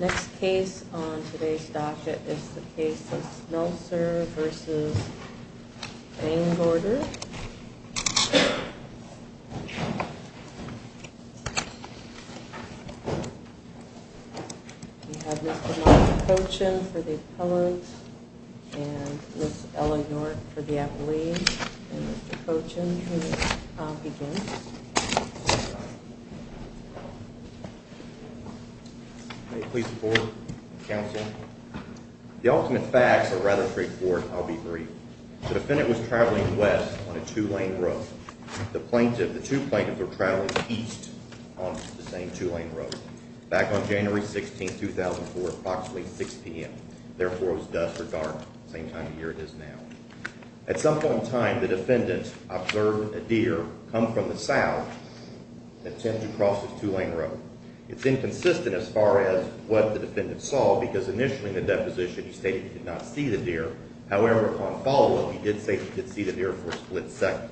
Next case on today's docket is the case of Smelcer v. Vangorder. We have Mr. Mark Cochin for the appellant and Ms. Ella York for the appellee, and Mr. Cochin who begins. May it please the court, counsel. The ultimate facts are rather straightforward and I'll be brief. The defendant was traveling west on a two-lane road. The two plaintiffs were traveling east on the same two-lane road back on January 16, 2004, approximately 6 p.m. Therefore, it was dusk or dark, the same time of year it is now. At some point in time, the defendant observed a deer come from the south and attempt to cross the two-lane road. It's inconsistent as far as what the defendant saw because initially in the deposition, he stated he did not see the deer. However, on follow-up, he did say he did see the deer for a split second.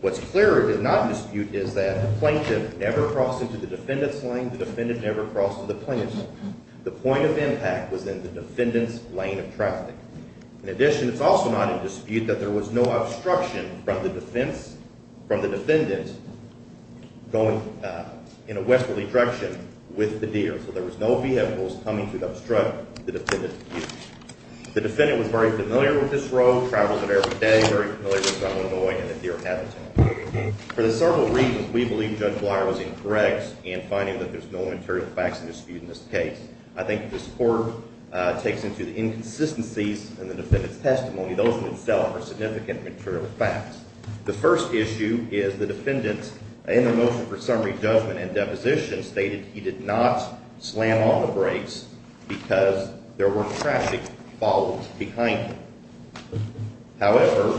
What's clear he did not dispute is that the plaintiff never crossed into the defendant's lane, the defendant never crossed into the plaintiff's lane. The point of impact was in the defendant's lane of traffic. In addition, it's also not in dispute that there was no obstruction from the defendant going in a westerly direction with the deer. So there was no vehicles coming to obstruct the defendant's view. The defendant was very familiar with this road, traveled it every day, very familiar with South Illinois and the deer habitat. For the several reasons we believe Judge Bleier was incorrect in finding that there's no material facts in dispute in this case, I think this court takes into the inconsistencies in the defendant's testimony. Those in themselves are significant material facts. The first issue is the defendant in the motion for summary judgment and deposition stated he did not slam on the brakes because there were traffic following behind him. However,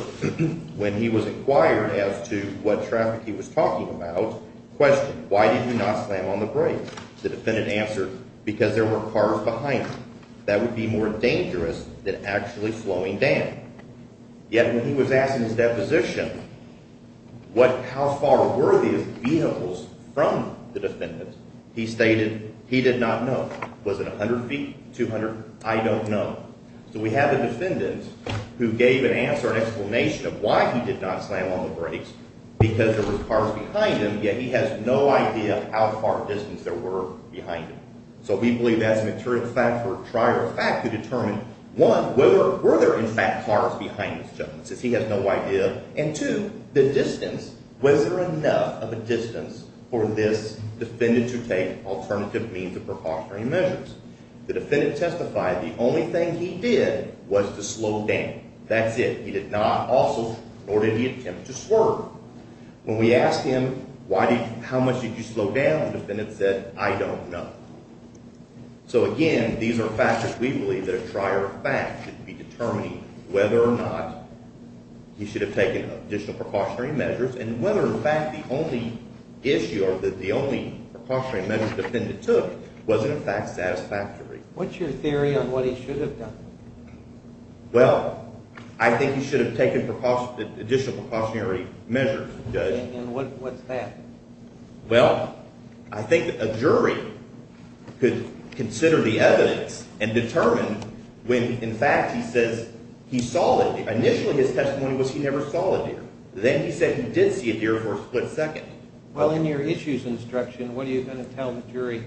when he was inquired as to what traffic he was talking about, questioned, why did he not slam on the brakes? The defendant answered, because there were cars behind him. That would be more dangerous than actually slowing down. Yet when he was asked in his deposition how far were these vehicles from the defendant, he stated he did not know. Was it 100 feet, 200? I don't know. So we have a defendant who gave an answer, an explanation of why he did not slam on the brakes, because there were cars behind him. Yet he has no idea how far a distance there were behind him. So we believe that's a material fact for a trier of fact to determine, one, were there in fact cars behind this gentleman, since he has no idea. And two, the distance, was there enough of a distance for this defendant to take alternative means of precautionary measures? The defendant testified the only thing he did was to slow down. That's it. He did not also, nor did he attempt to swerve. When we asked him, how much did you slow down, the defendant said, I don't know. So again, these are factors we believe that a trier of fact should be determining whether or not he should have taken additional precautionary measures, and whether in fact the only issue or the only precautionary measure the defendant took was in fact satisfactory. What's your theory on what he should have done? Well, I think he should have taken additional precautionary measures, Judge. And what's that? Well, I think a jury could consider the evidence and determine when in fact he says he saw a deer. Initially his testimony was he never saw a deer. Then he said he did see a deer for a split second. Well, in your issues instruction, what are you going to tell the jury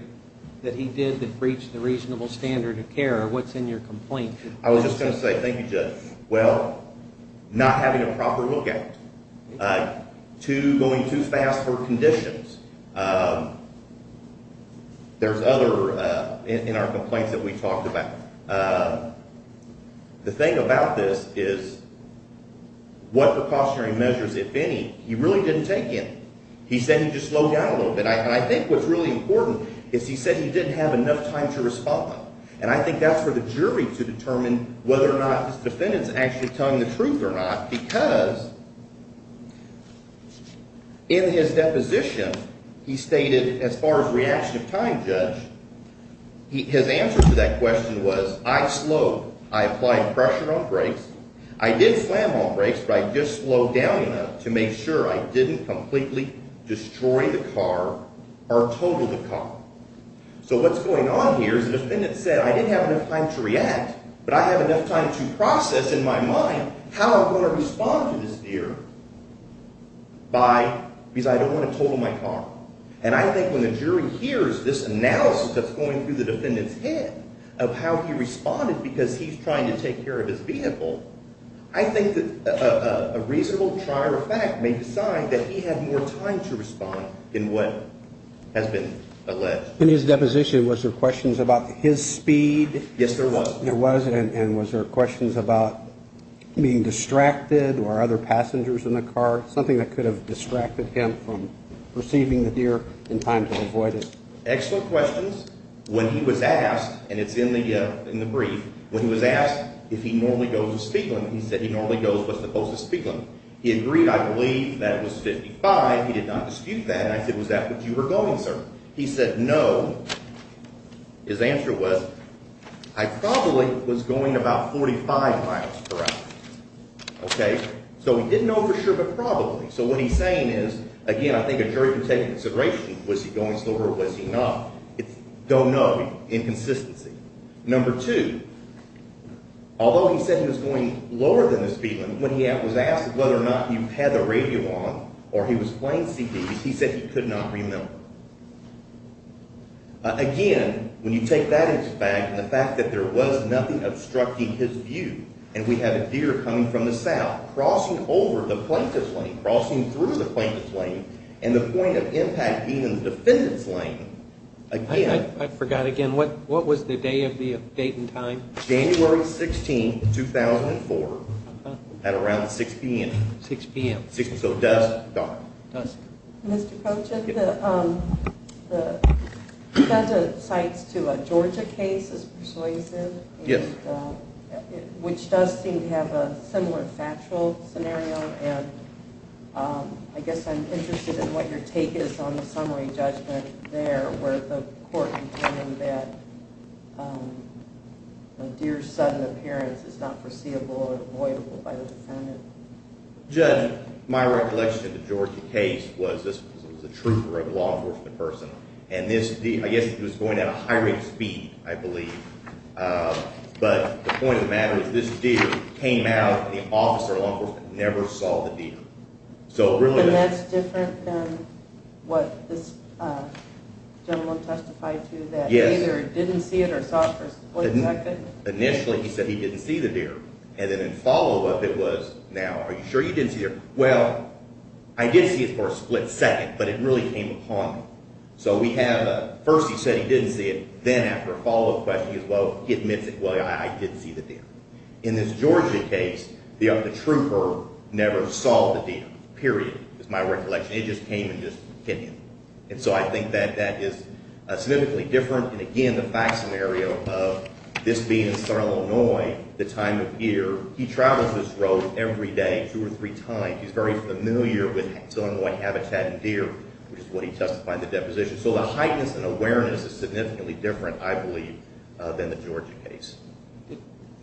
that he did that breached the reasonable standard of care? What's in your complaint? I was just going to say, thank you, Judge. Well, not having a proper lookout, going too fast for conditions. There's other in our complaints that we talked about. The thing about this is what precautionary measures, if any, he really didn't take in. He said he just slowed down a little bit. And I think what's really important is he said he didn't have enough time to respond. And I think that's for the jury to determine whether or not his defendant's actually telling the truth or not. Because in his deposition, he stated as far as reaction time, Judge, his answer to that question was I slowed. I applied pressure on brakes. I did slam on brakes, but I just slowed down enough to make sure I didn't completely destroy the car or total the car. So what's going on here is the defendant said I didn't have enough time to react, but I have enough time to process in my mind how I'm going to respond to this deer because I don't want to total my car. And I think when the jury hears this analysis that's going through the defendant's head of how he responded because he's trying to take care of his vehicle, I think that a reasonable trier of fact may decide that he had more time to respond in what has been alleged. In his deposition, was there questions about his speed? Yes, there was. There was, and was there questions about being distracted or other passengers in the car, something that could have distracted him from receiving the deer in time to avoid it? Excellent questions. When he was asked, and it's in the brief, when he was asked if he normally goes with speed limit, he said he normally goes with the posted speed limit. He agreed, I believe, that it was 55. He did not dispute that, and I said was that what you were going, sir? He said no. His answer was I probably was going about 45 miles per hour. Okay, so he didn't know for sure, but probably. So what he's saying is, again, I think a jury can take into consideration was he going slower or was he not. It's don't know, inconsistency. Number two, although he said he was going lower than the speed limit, when he was asked whether or not he had the radio on or he was playing CDs, he said he could not remember. Again, when you take that into fact, and the fact that there was nothing obstructing his view, and we have a deer coming from the south, crossing over the plaintiff's lane, crossing through the plaintiff's lane, and the point of impact being in the defendant's lane, again. I forgot again. What was the day of the date and time? January 16, 2004, at around 6 p.m. 6 p.m. So dusk, dawn. Dusk. Mr. Pochen, the Fentah cites to a Georgia case as persuasive. Yes. Which does seem to have a similar factual scenario, and I guess I'm interested in what your take is on the summary judgment there where the court determined that a deer's sudden appearance is not foreseeable or avoidable by the defendant. Judge, my recollection of the Georgia case was this was a trooper, a law enforcement person, and this deer, I guess he was going at a high rate of speed, I believe, but the point of the matter is this deer came out and the officer, law enforcement, never saw the deer. And that's different than what this gentleman testified to, that he either didn't see it or saw it for a split second? Initially he said he didn't see the deer, and then in follow-up it was, now, are you sure you didn't see the deer? Well, I did see it for a split second, but it really came upon me. So we have a first he said he didn't see it, then after a follow-up question he admits it, well, yeah, I did see the deer. In this Georgia case, the trooper never saw the deer, period, is my recollection. It just came and just hit him. And so I think that that is significantly different. And again, the fact scenario of this being in Starr, Illinois, the time of year, he travels this road every day two or three times. He's very familiar with Illinois habitat and deer, which is what he testified in the deposition. So the heightness and awareness is significantly different, I believe, than the Georgia case.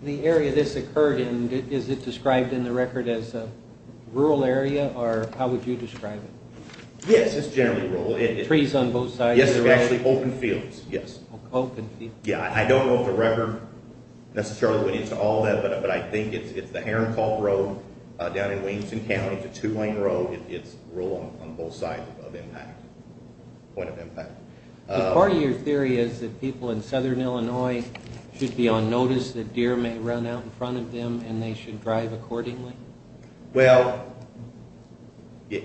The area this occurred in, is it described in the record as a rural area, or how would you describe it? Yes, it's generally rural. Trees on both sides of the road? Yes, it's actually open fields, yes. Open fields. Yeah, I don't know if the record necessarily went into all that, but I think it's the Heron Calt Road down in Williamson County, it's a two-lane road, it's rural on both sides of impact, point of impact. Part of your theory is that people in southern Illinois should be on notice that deer may run out in front of them and they should drive accordingly? Well,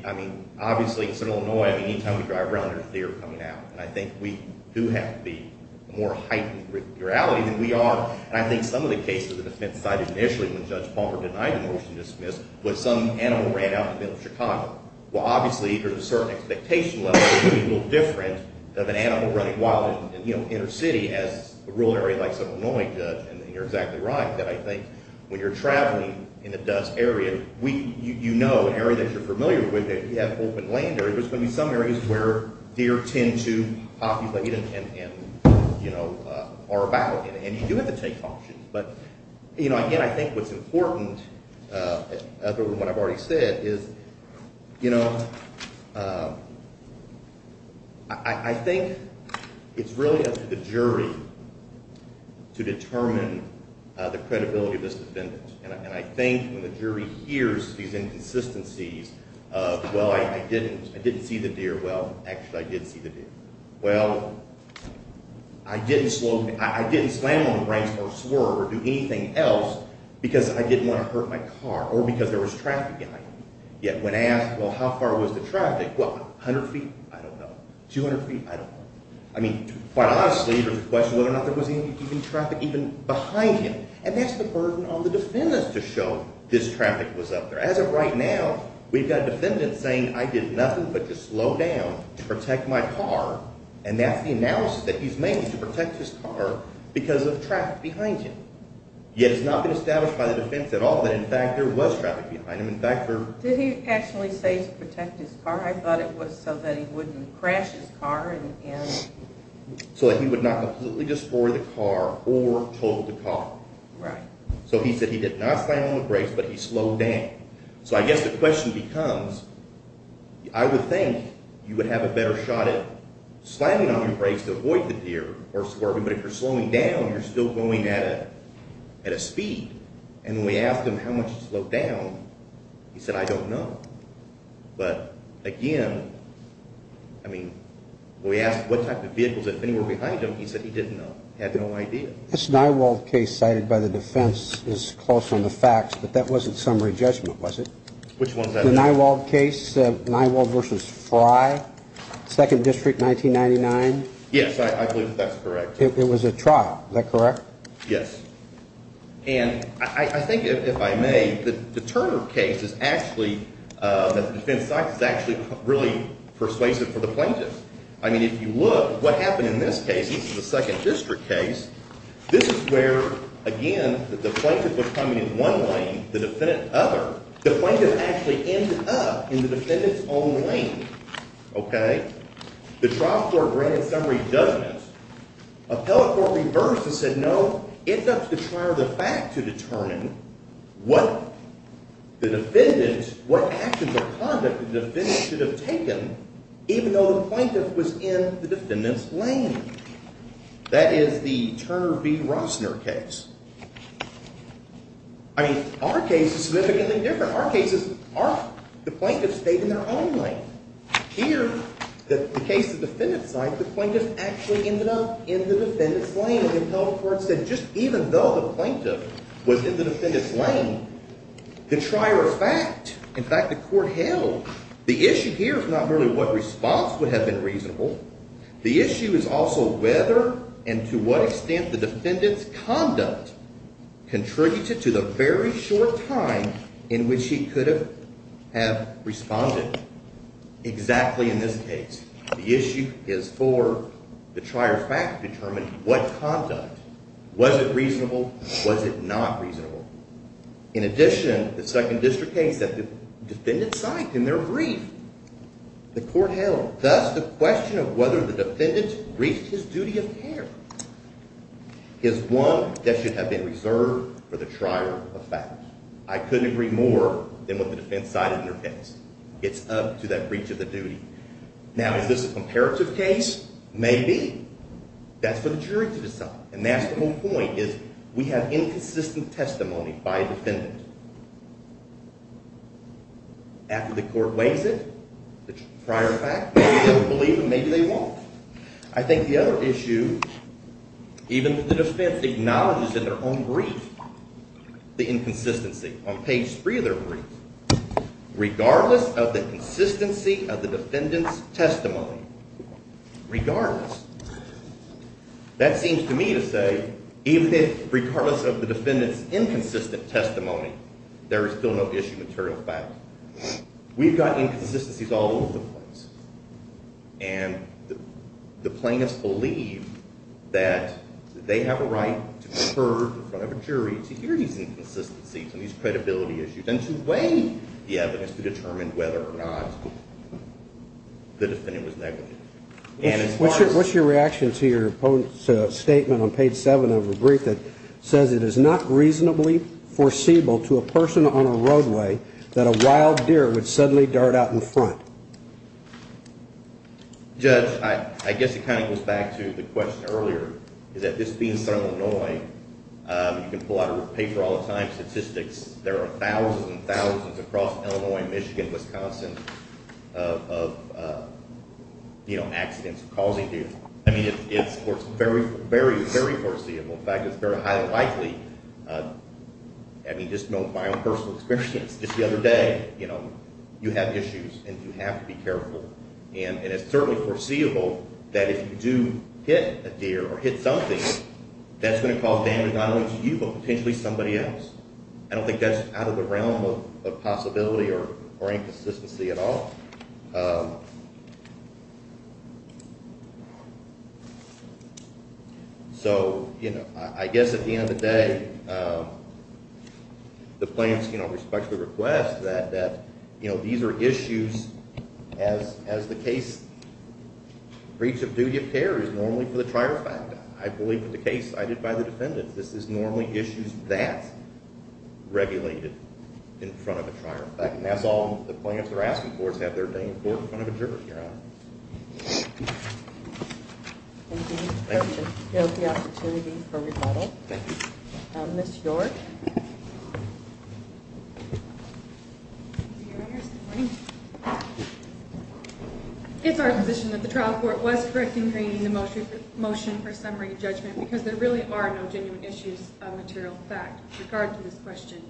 I mean, obviously in southern Illinois, any time we drive around there's deer coming out, and I think we do have to be more heightened with reality than we are, and I think some of the cases that have been cited initially when Judge Palmer denied the motion to dismiss, was some animal ran out in the middle of Chicago. Well, obviously there's a certain expectation level of being a little different than an animal running wild in the inner city, as a rural area like southern Illinois does, and you're exactly right, that I think when you're traveling in a dust area, you know an area that you're familiar with, if you have open land there, there's going to be some areas where deer tend to populate and are about, and you do have to take caution. But, you know, again, I think what's important, other than what I've already said, is, you know, I think it's really up to the jury to determine the credibility of this defendant, and I think when the jury hears these inconsistencies of, well, I didn't see the deer, well, actually I did see the deer, well, I didn't slam on the brakes or swerve or do anything else because I didn't want to hurt my car, or because there was traffic behind me, yet when asked, well, how far was the traffic, well, 100 feet, I don't know, 200 feet, I don't know. I mean, quite honestly, there's a question of whether or not there was any traffic even behind him, and that's the burden on the defendant to show this traffic was up there. As of right now, we've got a defendant saying, I did nothing but just slow down to protect my car, and that's the analysis that he's made to protect his car because of traffic behind him. Yet it's not been established by the defense at all that, in fact, there was traffic behind him. In fact, there – Did he actually say to protect his car? I thought it was so that he wouldn't crash his car and – So that he would not completely destroy the car or total the car. Right. So he said he did not slam on the brakes, but he slowed down. So I guess the question becomes, I would think you would have a better shot at slamming on your brakes to avoid the deer or swerving, but if you're slowing down, you're still going at a speed. And when we asked him how much he slowed down, he said, I don't know. But again, I mean, when we asked what type of vehicles had been anywhere behind him, he said he didn't know. He had no idea. This Nywald case cited by the defense is close on the facts, but that wasn't summary judgment, was it? Which one is that? The Nywald case, Nywald v. Fry, 2nd District, 1999. Yes, I believe that that's correct. It was a trial. Is that correct? Yes. And I think, if I may, the Turner case is actually – the defense side is actually really persuasive for the plaintiffs. I mean, if you look what happened in this case, this is a 2nd District case. This is where, again, the plaintiff was coming in one lane, the defendant other. The plaintiff actually ended up in the defendant's own lane. Okay? The trial court granted summary judgment. Appellate court reversed and said, no, it's up to the trial of the fact to determine what the defendant – what actions or conduct the defendant should have taken even though the plaintiff was in the defendant's lane. That is the Turner v. Rossner case. I mean, our case is significantly different. Our case is – the plaintiff stayed in their own lane. Here, the case of the defendant's side, the plaintiff actually ended up in the defendant's lane. And the appellate court said just even though the plaintiff was in the defendant's lane, the trial of fact – in fact, the court held. The issue here is not merely what response would have been reasonable. The issue is also whether and to what extent the defendant's conduct contributed to the very short time in which he could have responded. Exactly in this case, the issue is for the trial of fact to determine what conduct. Was it reasonable? Was it not reasonable? In addition, the 2nd District case that the defendant signed in their brief, the court held. Thus, the question of whether the defendant reached his duty of care is one that should have been reserved for the trial of fact. I couldn't agree more than what the defense sided in their case. It's up to that breach of the duty. Now, is this a comparative case? Maybe. That's for the jury to decide. And that's the whole point is we have inconsistent testimony by a defendant. After the court weighs it, the trial of fact, maybe they'll believe it, maybe they won't. I think the other issue, even if the defense acknowledges in their own brief the inconsistency on page 3 of their brief, regardless of the consistency of the defendant's testimony. Regardless. That seems to me to say, even if regardless of the defendant's inconsistent testimony, there is still no issue with trial of fact. We've got inconsistencies all over the place. And the plaintiffs believe that they have a right to confer in front of a jury to hear these inconsistencies and these credibility issues and to weigh the evidence to determine whether or not the defendant was negative. What's your reaction to your opponent's statement on page 7 of the brief that says, It is not reasonably foreseeable to a person on a roadway that a wild deer would suddenly dart out in front. Judge, I guess it kind of goes back to the question earlier. You can pull out a paper all the time, statistics. There are thousands and thousands across Illinois, Michigan, Wisconsin of accidents causing deer. I mean, it's very, very, very foreseeable. In fact, it's very highly likely. I mean, just note my own personal experience. Just the other day, you know, you have issues and you have to be careful. And it's certainly foreseeable that if you do hit a deer or hit something, that's going to cause damage, not only to you, but potentially somebody else. I don't think that's out of the realm of possibility or inconsistency at all. So, you know, I guess at the end of the day, the plaintiffs can respectfully request that, you know, these are issues as the case, breach of duty of care is normally for the trier effect. I believe with the case I did by the defendant, this is normally issues that regulated in front of a trier effect. And that's all the plaintiffs are asking for is to have their day in court in front of a juror, Your Honor. Thank you. Thank you. Thank you for the opportunity for rebuttal. Thank you. Ms. York. Thank you, Your Honor. Good morning. It's our position that the trial court was correct in creating the motion for summary judgment because there really are no genuine issues of material fact with regard to this question.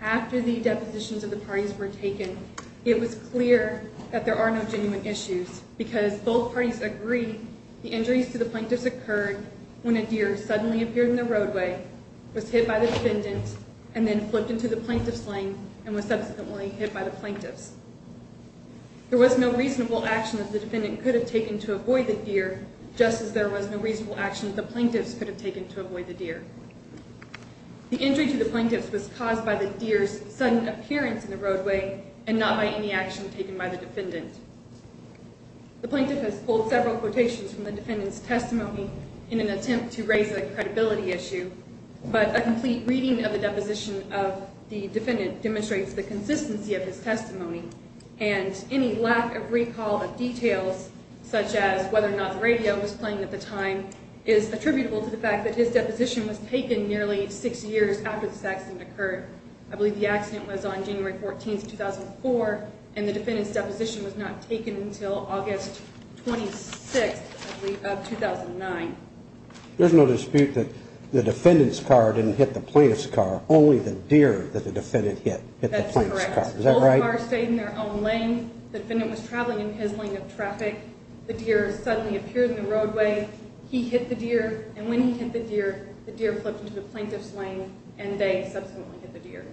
After the depositions of the parties were taken, it was clear that there are no genuine issues because both parties agree the injuries to the plaintiffs occurred when a deer suddenly appeared in the roadway, was hit by the defendant, and then flipped into the plaintiff's lane and was subsequently hit by the plaintiffs. There was no reasonable action that the defendant could have taken to avoid the deer, just as there was no reasonable action that the plaintiffs could have taken to avoid the deer. The injury to the plaintiffs was caused by the deer's sudden appearance in the roadway and not by any action taken by the defendant. The plaintiff has pulled several quotations from the defendant's testimony in an attempt to raise a credibility issue, but a complete reading of the deposition of the defendant demonstrates the consistency of his testimony, and any lack of recall of details, such as whether or not the radio was playing at the time, is attributable to the fact that his deposition was taken nearly six years after this accident occurred. I believe the accident was on January 14th, 2004, and the defendant's deposition was not taken until August 26th of 2009. There's no dispute that the defendant's car didn't hit the plaintiff's car, only the deer that the defendant hit hit the plaintiff's car. Is that right? Both cars stayed in their own lane. The defendant was traveling in his lane of traffic. The deer suddenly appeared in the roadway. He hit the deer, and when he hit the deer, the deer flipped into the plaintiff's lane, and they subsequently hit the deer.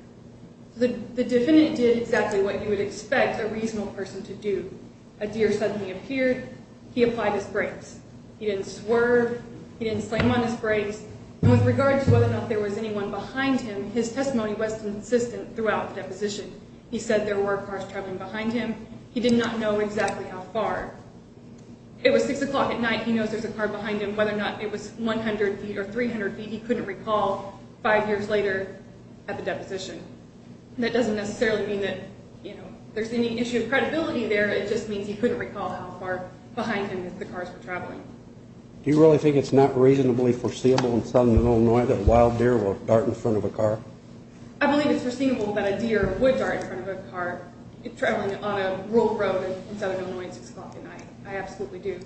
The defendant did exactly what you would expect a reasonable person to do. A deer suddenly appeared. He applied his brakes. He didn't swerve. He didn't slam on his brakes. And with regards to whether or not there was anyone behind him, his testimony was consistent throughout the deposition. He said there were cars traveling behind him. He did not know exactly how far. It was 6 o'clock at night. He knows there's a car behind him. Whether or not it was 100 feet or 300 feet, he couldn't recall five years later at the deposition. That doesn't necessarily mean that, you know, there's any issue of credibility there. It just means he couldn't recall how far behind him the cars were traveling. Do you really think it's not reasonably foreseeable in southern Illinois that a wild deer will dart in front of a car? I believe it's foreseeable that a deer would dart in front of a car traveling on a rural road in southern Illinois at 6 o'clock at night. I absolutely do.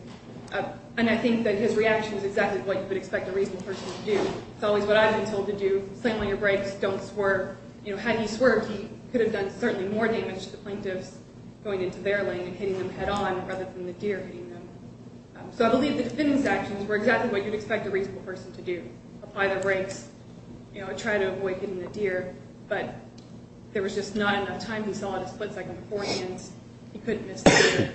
And I think that his reaction is exactly what you would expect a reasonable person to do. It's always what I've been told to do, slam on your brakes, don't swerve. You know, had he swerved, he could have done certainly more damage to the plaintiffs going into their lane and hitting them head-on rather than the deer hitting them. So I believe the defendant's actions were exactly what you'd expect a reasonable person to do. Apply the brakes, you know, try to avoid hitting the deer. But there was just not enough time. He saw it a split second before he did. He couldn't miss the deer.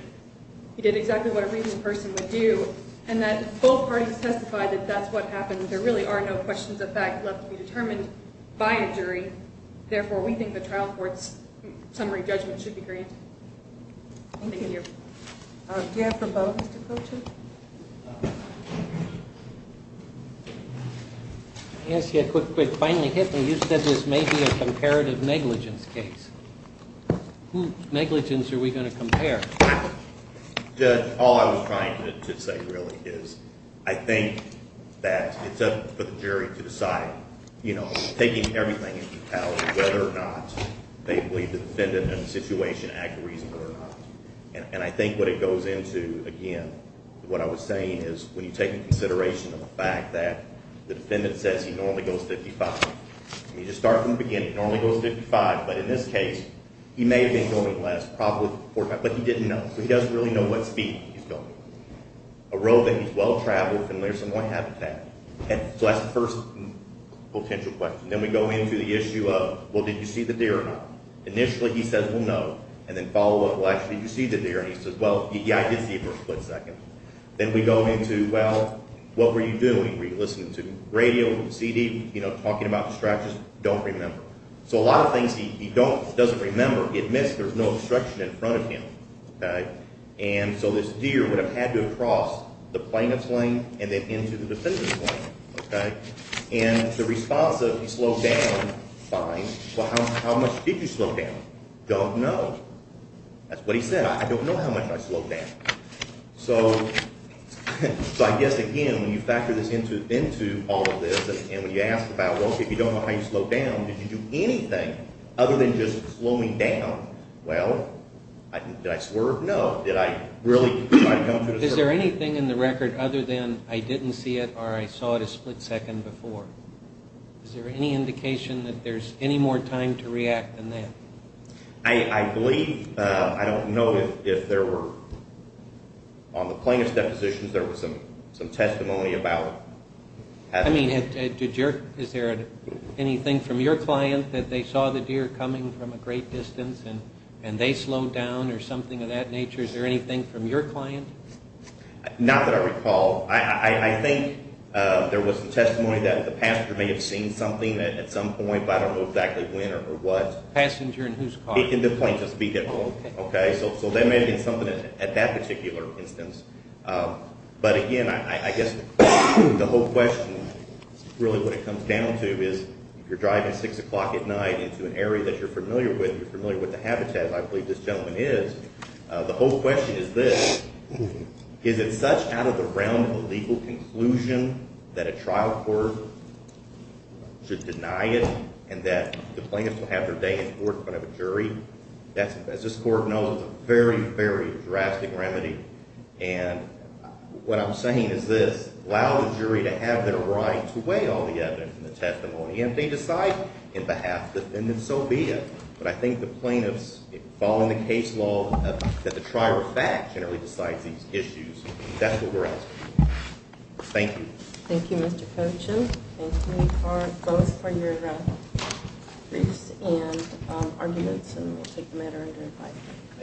He did exactly what a reasonable person would do. And that both parties testified that that's what happened. There really are no questions of fact left to be determined by a jury. Therefore, we think the trial court's summary judgment should be granted. Thank you. Thank you. Do you have for both, Mr. Cochen? I'll ask you a quick, quick, finally hit me. You said this may be a comparative negligence case. Who's negligence are we going to compare? Judge, all I was trying to say really is I think that it's up for the jury to decide, you know, whether or not they believe the defendant in the situation acted reasonably or not. And I think what it goes into, again, what I was saying is when you take into consideration the fact that the defendant says he normally goes 55, you just start from the beginning. He normally goes 55, but in this case, he may have been going less, probably 45. But he didn't know. So he doesn't really know what speed he's going. A road that he's well-traveled, familiar with some of my habitat. So that's the first potential question. Then we go into the issue of, well, did you see the deer or not? Initially, he says, well, no. And then follow up, well, actually, did you see the deer? And he says, well, yeah, I did see it for a split second. Then we go into, well, what were you doing? Were you listening to radio, CD, you know, talking about the strategies? Don't remember. So a lot of things he doesn't remember, he admits there's no obstruction in front of him. And so this deer would have had to have crossed the plaintiff's lane and then into the defendant's lane. And the response of he slowed down, fine, but how much did you slow down? Don't know. That's what he said. I don't know how much I slowed down. So I guess, again, when you factor this into all of this, and when you ask about, well, if you don't know how you slowed down, did you do anything other than just slowing down? Well, did I swerve? No. Did I really try to go through the circuit? Is there anything in the record other than I didn't see it or I saw it a split second before? Is there any indication that there's any more time to react than that? I believe, I don't know if there were, on the plaintiff's depositions, there was some testimony about having. I mean, is there anything from your client that they saw the deer coming from a great distance and they slowed down or something of that nature? Is there anything from your client? Not that I recall. I think there was some testimony that the passenger may have seen something at some point, but I don't know exactly when or what. Passenger in whose car? In the plaintiff's vehicle. So there may have been something at that particular instance. But, again, I guess the whole question, really what it comes down to, is if you're driving 6 o'clock at night into an area that you're familiar with, you're familiar with the habitat, as I believe this gentleman is, the whole question is this. Is it such out of the realm of a legal conclusion that a trial court should deny it and that the plaintiff will have their day in court in front of a jury? As this court knows, it's a very, very drastic remedy. And what I'm saying is this. We allow the jury to have their right to weigh all the evidence in the testimony, and if they decide in behalf of the defendant, so be it. But I think the plaintiffs, following the case law, that the trier of fact generally decides these issues. That's what we're asking. Thank you. Thank you, Mr. Cochin. Thank you both for your briefs and arguments, and we'll take the matter under review.